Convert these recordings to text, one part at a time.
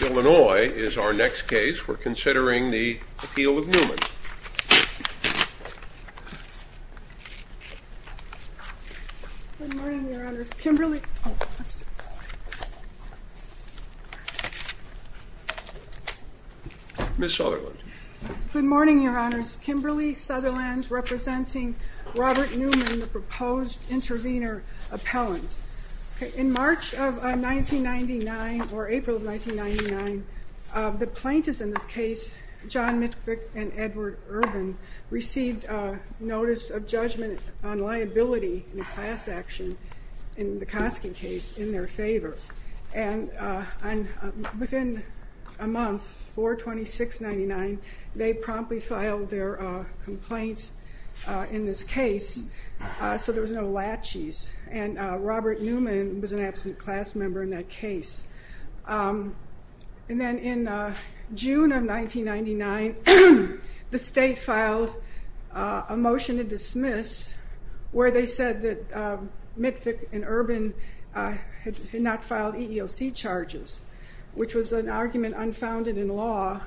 Illinois is our next case. We're considering the appeal of Newman. Ms. Sutherland. Good morning, your honors. Kimberly Sutherland representing Robert Newman, the proposed intervener appellant. In March of 1999, or April of 1999, the plaintiffs in this case, John Mitvick and Edward Urban, received a notice of judgment on liability in a class action in the Kosky case in their favor. And within a month, 4-26-99, they promptly filed their complaint in this case, so there was no latches. And Robert Newman was an absent class member in that case. And then in June of 1999, the state filed a motion to dismiss where they said that Mitvick and Urban had not filed EEOC charges, which was an argument unfounded in law,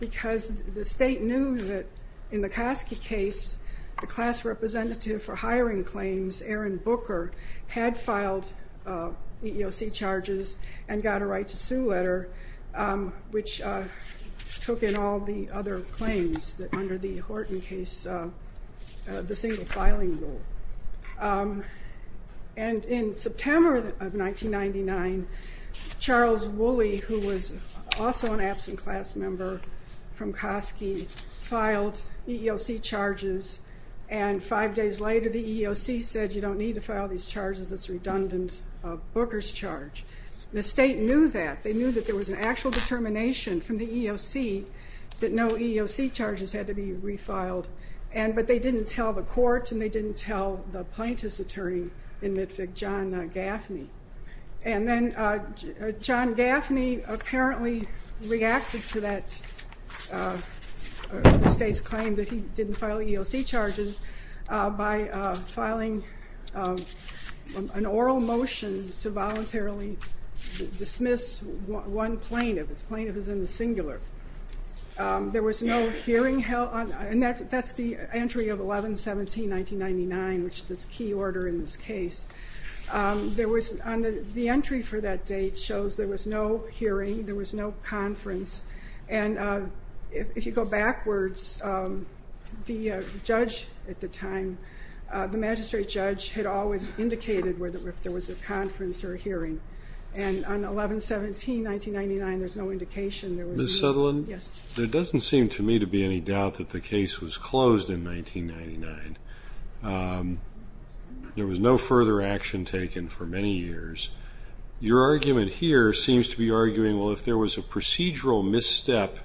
because the state knew that in the Kosky case, the class representative for hiring claims, Aaron Booker, had filed EEOC charges and got a right to sue letter, which took in all the other claims under the Horton case, the single filing rule. And in June of 1999, also an absent class member from Kosky, filed EEOC charges, and five days later the EEOC said you don't need to file these charges, it's a redundant Booker's charge. The state knew that. They knew that there was an actual determination from the EEOC that no EEOC charges had to be refiled, but they didn't tell the court and they didn't tell the plaintiff's attorney in Mitvick, John Gaffney. And then John Gaffney apparently reacted to the state's claim that he didn't file EEOC charges by filing an oral motion to voluntarily dismiss one plaintiff. This plaintiff is in the singular. There was no order in this case. The entry for that date shows there was no hearing, there was no conference. And if you go backwards, the judge at the time, the magistrate judge, had always indicated whether there was a conference or a hearing. And on 11-17-1999, there's no indication there was a hearing. Ms. Sutherland, there doesn't seem to me to be any doubt that the case was closed in 1999. There was no further action taken for many years. Your argument here seems to be arguing, well, if there was a procedural misstep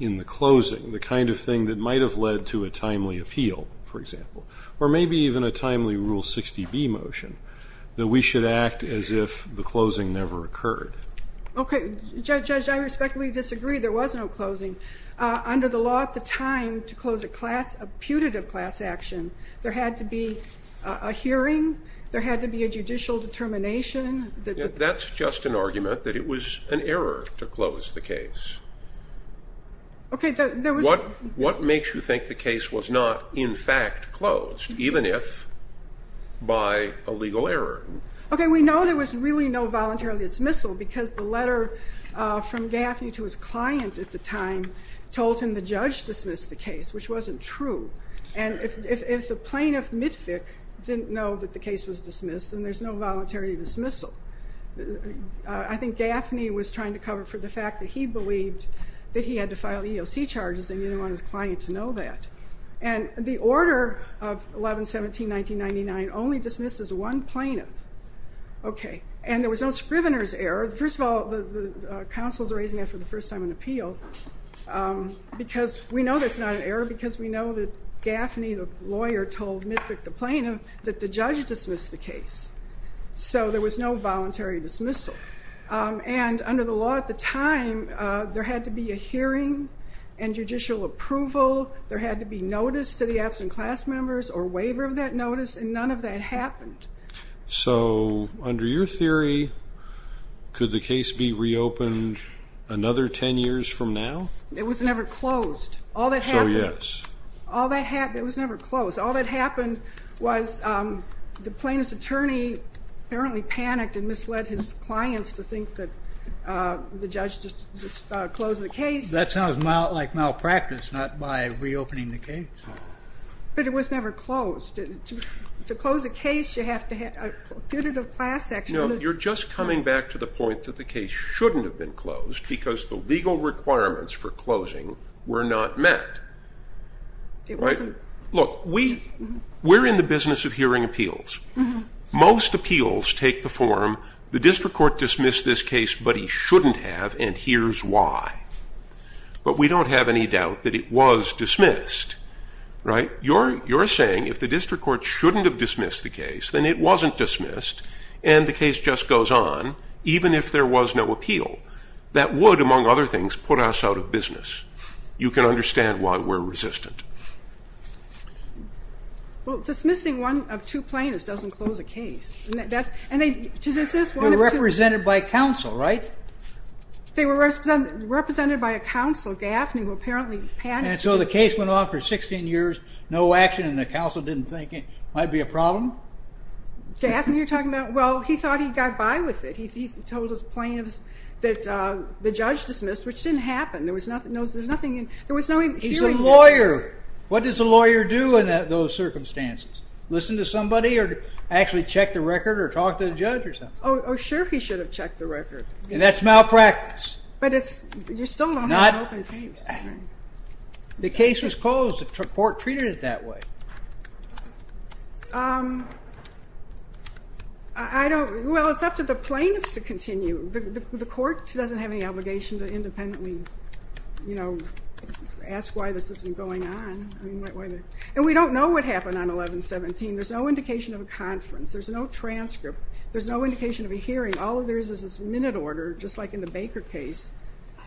in the closing, the kind of thing that might have led to a timely appeal, for example, or maybe even a timely Rule 60B motion, that we should act as if the closing never occurred. Okay. Judge, I respectfully disagree. There was no closing. Under the law at the time to close a class, a putative class action, there had to be a hearing, there had to be a judicial determination. That's just an argument that it was an error to close the case. What makes you think the case was not, in fact, closed, even if by a legal error? We know there was really no voluntary dismissal because the letter from Gaffney to his client at the time told him the judge dismissed the case, which wasn't true. And if the plaintiff Mitvick didn't know that the case was dismissed, then there's no voluntary dismissal. I think Gaffney was trying to cover for the fact that he believed that he had to file EOC charges and he didn't want his client to know that. And the order of 11-17-1999 only dismisses one plaintiff. Okay. And there was no Scrivener's error. First of all, the counsel's raising that for the first time in appeal because we know that it's not an error because we know that Gaffney, the lawyer, told Mitvick, the plaintiff, that the judge dismissed the case. So there was no voluntary dismissal. And under the law at the time, there had to be a hearing and judicial approval. There had to be notice to the absent class members or waiver of that notice. And none of that happened. So under your theory, could the case be reopened another 10 years from now? It was never closed. All that happened. So yes. It was never closed. All that happened was the plaintiff's attorney apparently panicked and misled his clients to think that the judge just closed the case. That sounds like malpractice, not by reopening the case. But it was never closed. To close a case, you have to have a punitive class action. No, you're just coming back to the point that the case shouldn't have been closed because the legal requirements for closing were not met. Look, we're in the business of hearing appeals. Most appeals take the form, the district court dismissed this case, but he shouldn't have, and here's why. But we don't have any doubt that it was dismissed, right? You're saying if the district court shouldn't have dismissed the case, then it wasn't dismissed and the case just goes on even if there was no appeal. That would, among other things, put us out of business. You can understand why we're resistant. Well, dismissing one of two plaintiffs doesn't close a case. They were represented by a counsel, right? They were represented by a counsel, Gaffney, who apparently panicked. And so the case went on for 16 years, no action, and the counsel didn't think it might be a problem? Gaffney, you're talking about, well, he thought he got by with it. He told his plaintiffs that the judge dismissed, which didn't happen. There was no hearing. He's a lawyer. What does a lawyer do in those circumstances? Listen to somebody or actually check the record or talk to the judge or something? Oh, sure, he should have checked the record. And that's malpractice. But you still don't have an open case. The case was closed. The court treated it that way. Well, it's up to the plaintiffs to continue. The court doesn't have any obligation to independently ask why this isn't going on. And we don't know what happened on 11-17. There's no indication of a conference. There's no transcript. There's no indication of a hearing. All there is is this minute order, just like in the Baker case,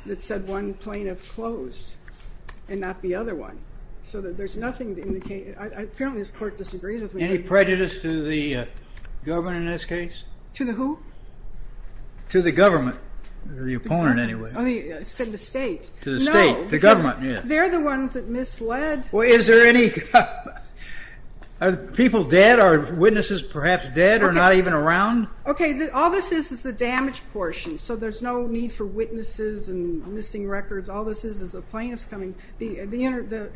that said one of the indications. Apparently this court disagrees with me. Any prejudice to the government in this case? To the who? To the government. The opponent, anyway. I said the state. No. They're the ones that misled. Are people dead? Are witnesses perhaps dead or not even around? All this is is the damage portion. So there's no need for witnesses and missing records. All this is is the plaintiffs coming, the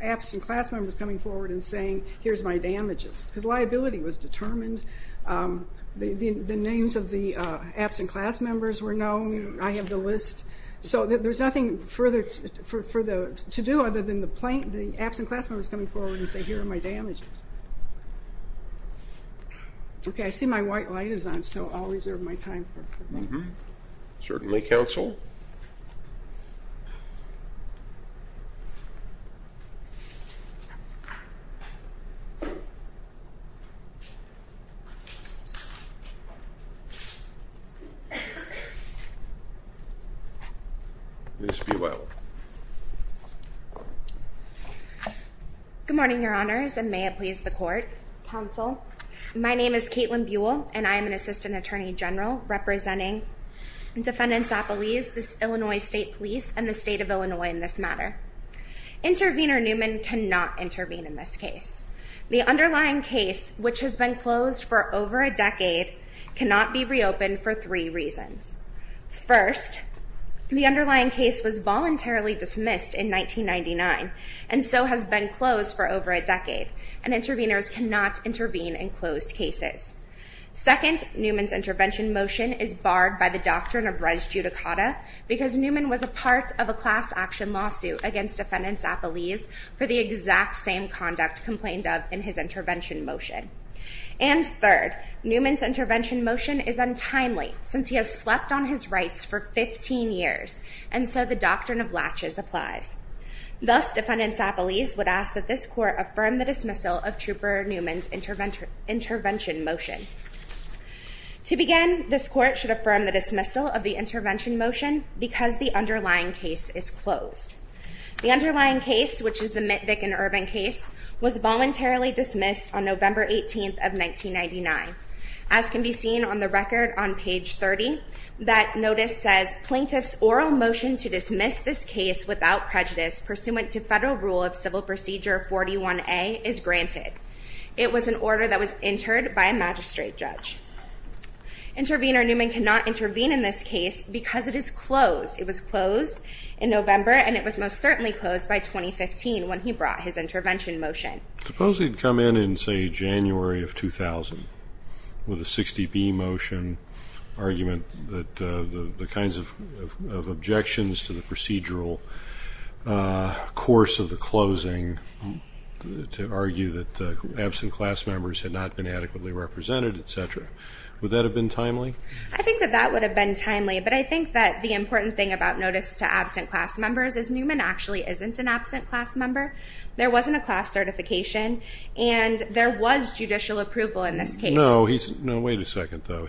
absent class members coming forward and saying here's my damages. Because liability was determined. The names of the absent class members were known. I have the list. So there's nothing further to do other than the absent class members coming forward and saying here are my damages. Okay, I see my white light is on, so I'll reserve my time. Certainly, counsel. Ms. Buell. Good morning, your honors, and may it please the court. Counsel. My name is Caitlin Buell and I am an assistant attorney general representing Defendants Appellees, the Illinois State Police and the state of Illinois in this matter. Intervenor Newman cannot intervene in this case. The underlying case, which has been closed for over a decade, cannot be reopened for three reasons. First, the underlying case was voluntarily dismissed in 1999 and so has been closed for over a decade and intervenors cannot intervene in closed cases. Second, Newman's intervention motion is barred by the doctrine of res judicata because Newman was a part of a class action lawsuit against Defendants Appellees for the exact same conduct complained of in his intervention motion. And third, Newman's intervention motion is untimely since he has slept on his rights for 15 years and so the doctrine of latches applies. Thus, Defendants Appellees would ask that this court affirm the dismissal of Trooper Newman's intervention motion. To begin, this court should affirm the dismissal of the intervention motion because the underlying case is closed. The underlying case, which is the Mitvick and Urban case, was voluntarily dismissed on November 18th of 1999. As can be seen on the record on page 30, that notice says, Plaintiff's oral motion to dismiss this case without prejudice pursuant to federal rule of civil procedure 41A is granted. It was an order that was entered by a magistrate judge. Intervenor Newman cannot intervene in this case because it is closed. It was closed in November and it was most certainly closed by 2015 when he brought his intervention motion. I suppose he'd come in in say January of 2000 with a 60B motion argument that the kinds of objections to the procedural course of the closing to argue that absent class members had not been adequately represented, etc. Would that have been timely? I think that that would have been timely, but I think that the important thing about notice to absent class members is Newman actually isn't an absent class member. There wasn't a class certification and there was judicial approval in this case. No, wait a second though.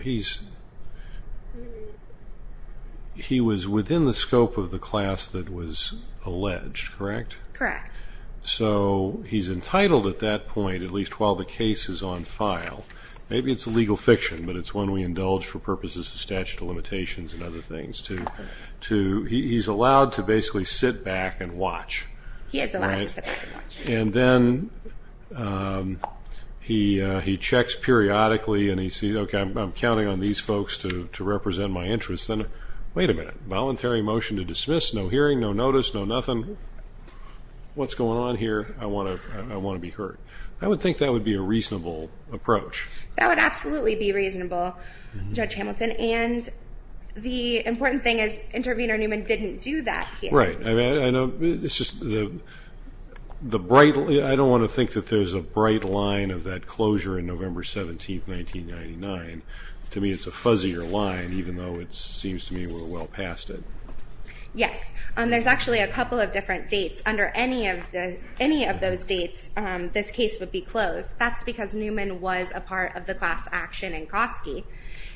He was within the scope of the class that was alleged, correct? Correct. So he's entitled at that point, at least while the case is on file, maybe it's a legal fiction, but it's one we indulge for purposes of statute of limitations and other things, to, he's allowed to basically sit back and watch. He is allowed to sit back and watch. And then he checks periodically and he sees, okay, I'm counting on these folks to represent my interests. And wait a minute, voluntary motion to dismiss, no hearing, no notice, no nothing. What's going on here? I want to be heard. I would think that would be a reasonable approach. That would absolutely be reasonable, Judge Hamilton. And the important thing is intervener Newman didn't do that here. Right. I mean, I know it's just the, the bright, I don't want to think that there's a bright line of that closure in November 17th, 1999. To me, it's a fuzzier line, even though it seems to me we're well past it. Yes. And there's actually a couple of different dates under any of the, any of those dates, this case would be closed. That's because Newman was a part of the class action in Kosky.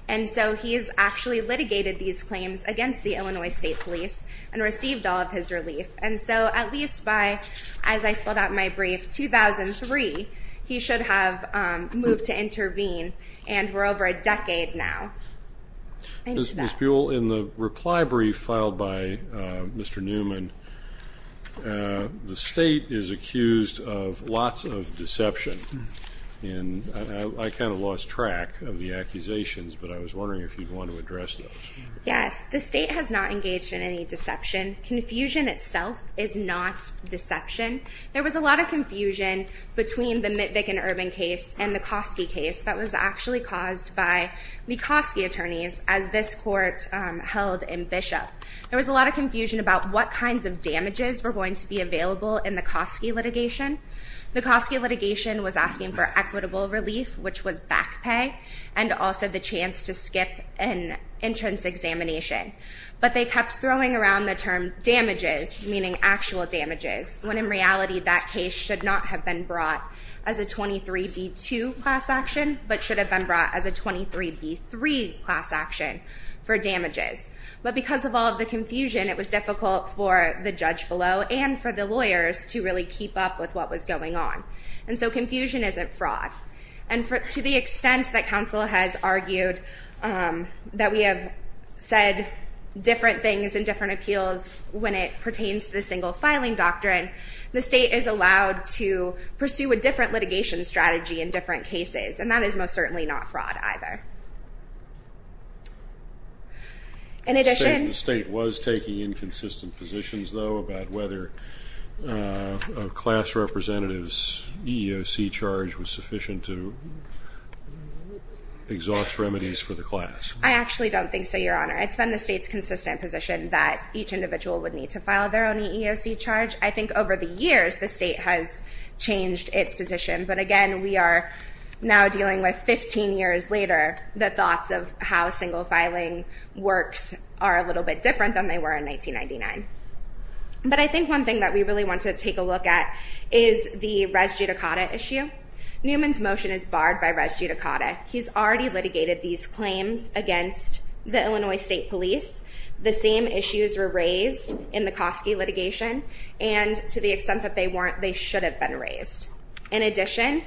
And so he's actually litigated these claims against the Illinois State Police and received all of his relief. And so at least by, as I spelled out in my brief, 2003, he should have moved to intervene. And we're over a decade now. Ms. Buell, in the reply brief filed by Mr. Newman, the state is accused of lots of deception in, I kind of lost track of the accusations, but I was wondering if you'd want to address those. Yes. The state has not engaged in any deception. Confusion itself is not deception. There was a lot of confusion between the Mitvick and Urban case and the Kosky case that was actually caused by the Kosky attorneys as this court held in Bishop. There was a lot of confusion about what kinds of damages were going to be available in the Kosky litigation. The Kosky litigation was asking for equitable relief, which was back pay, and also the chance to skip an entrance examination. But they kept throwing around the term damages, meaning actual damages, when in reality that case should not have been brought as a 23B2 class action, but should have been brought as a 23B3 class action for damages. But because of all of the confusion, it was difficult for the judge below and for the lawyers to really keep up with what was going on. And so confusion isn't fraud. And to the extent that counsel has argued that we have said different things in different appeals when it pertains to the single filing doctrine, the state is allowed to pursue a different litigation strategy in different cases, and that is most certainly not fraud either. The state was taking inconsistent positions, though, about whether a class representative's EEOC charge was sufficient to exhaust remedies for the class. I actually don't think so, Your Honor. It's been the state's consistent position that each individual would need to file their own EEOC charge. I think over the years the state has changed its position. But again, we are now dealing with 15 years later the thoughts of how single filing works are a little bit different than they were in 1999. But I think one thing that we really want to take a look at is the res judicata issue. Newman's motion is barred by res judicata. He's already litigated these claims against the Illinois State Police. The same issues were raised in the Kosky litigation, and to the extent that they weren't, they should have been raised. In addition,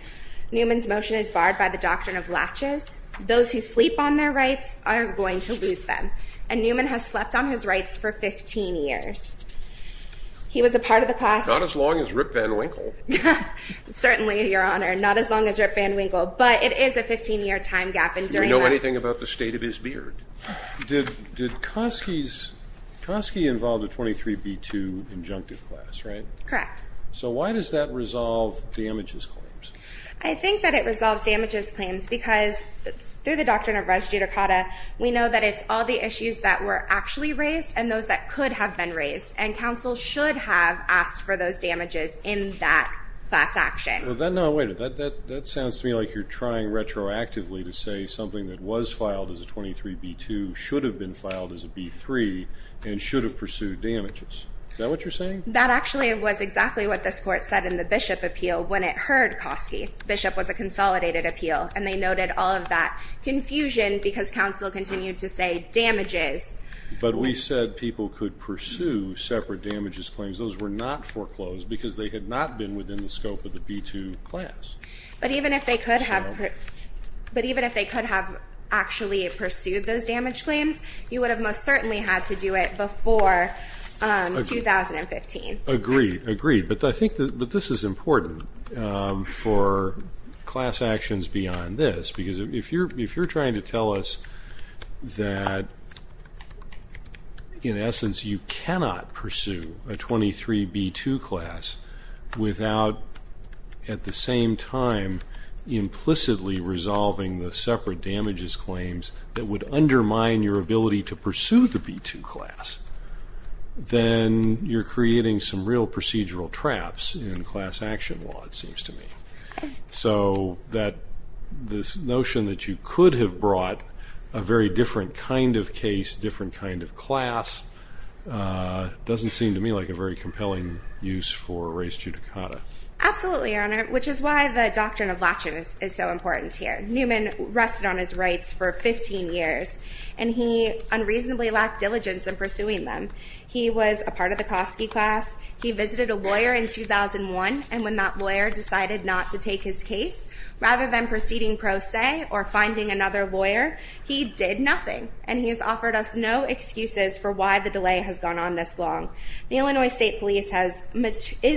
Newman's motion is barred by the doctrine of latches. Those who sleep on his rights for 15 years. He was a part of the class— Not as long as Rip Van Winkle. Certainly, Your Honor. Not as long as Rip Van Winkle. But it is a 15-year time gap. Do we know anything about the state of his beard? Did Kosky's—Kosky involved a 23b2 injunctive class, right? Correct. So why does that resolve damages claims? I think that it resolves damages claims because through the doctrine of res judicata, we know that it's all the issues that were actually raised and those that could have been raised. And counsel should have asked for those damages in that class action. Well, no, wait a minute. That sounds to me like you're trying retroactively to say something that was filed as a 23b2 should have been filed as a b3 and should have pursued damages. Is that what you're saying? That actually was exactly what this Court said in the Bishop appeal when it heard Kosky. Bishop was a consolidated appeal, and they noted all of that confusion because counsel continued to say damages. But we said people could pursue separate damages claims. Those were not foreclosed because they had not been within the scope of the b2 class. But even if they could have—but even if they could have actually pursued those damage claims, you would have most certainly had to do it before 2015. Agreed, agreed. But I think that this is important for class actions beyond this because if you're trying to tell us that in essence you cannot pursue a 23b2 class without at the same time implicitly resolving the separate damages claims that would undermine your ability to pursue the b2 class, then you're creating some real procedural traps in class action law, it seems to me. So that this notion that you could have brought a very different kind of case, different kind of class, doesn't seem to me like a very compelling use for res judicata. Absolutely, Your Honor, which is why the doctrine of latches is so important here. Newman rested on his rights for 15 years, and he unreasonably lacked diligence in pursuing them. He was a part of the Kosky class. He visited a lawyer in 2001, and when that lawyer decided not to take his case, rather than proceeding pro se or finding another lawyer, he did nothing. And he has offered us no excuses for why the delay has gone on this long. The Illinois State Police is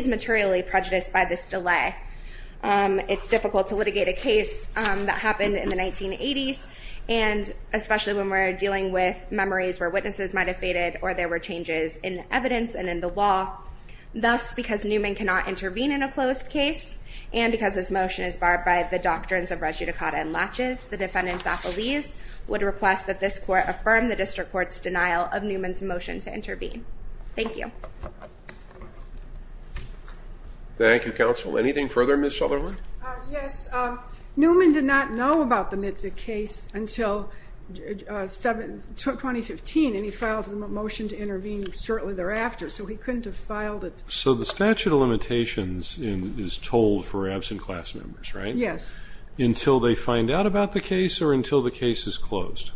materially prejudiced by this delay. It's difficult to litigate a case that happened in the 1980s, and especially when we're dealing with memories where witnesses might have faded or there were changes in evidence and in the law. Thus, because Newman cannot intervene in a closed case, and because this motion is barred by the doctrines of res judicata and latches, the defendant's affilies would request that this court affirm the district court's denial of Newman's motion to intervene. Thank you. Thank you, counsel. Anything further, Ms. Sutherland? Yes. Newman did not know about the case until 2015, and he filed a motion to intervene shortly thereafter. So he couldn't have filed it. So the statute of limitations is told for absent class members, right? Yes. Until they find out about the case or until the case is closed?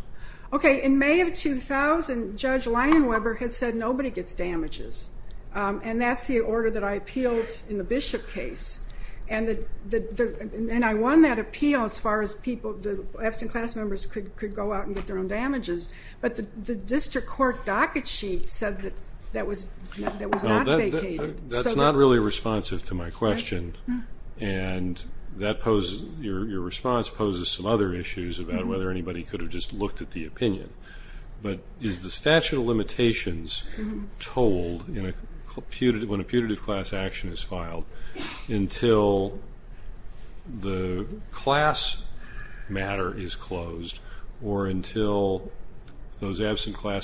Okay. In May of 2000, Judge Leinenweber had said nobody gets damages. And that's the order that I appealed in the Bishop case. And I won that appeal as far as absent class members could go out and get their own damages. But the district court docket sheet said that that was not vacated. That's not really responsive to my question. And your response poses some other issues about whether anybody could have just looked at the opinion. But is the statute of limitations told when a putative class action is filed until the absent class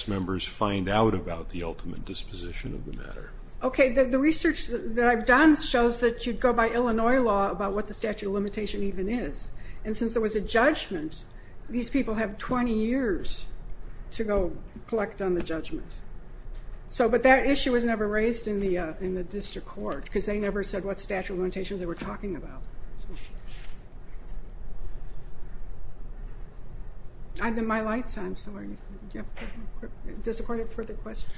members find out about the ultimate disposition of the matter? Okay. The research that I've done shows that you'd go by Illinois law about what the statute of limitation even is. And since there was a judgment, these people have 20 years to go collect on the judgment. So but that issue was never raised in the district court because they never said what statute of limitations they were talking about. I have my lights on, so does the court have further questions?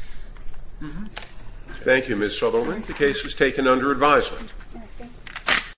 Thank you, Ms. Sutherland. The case is taken under advisement.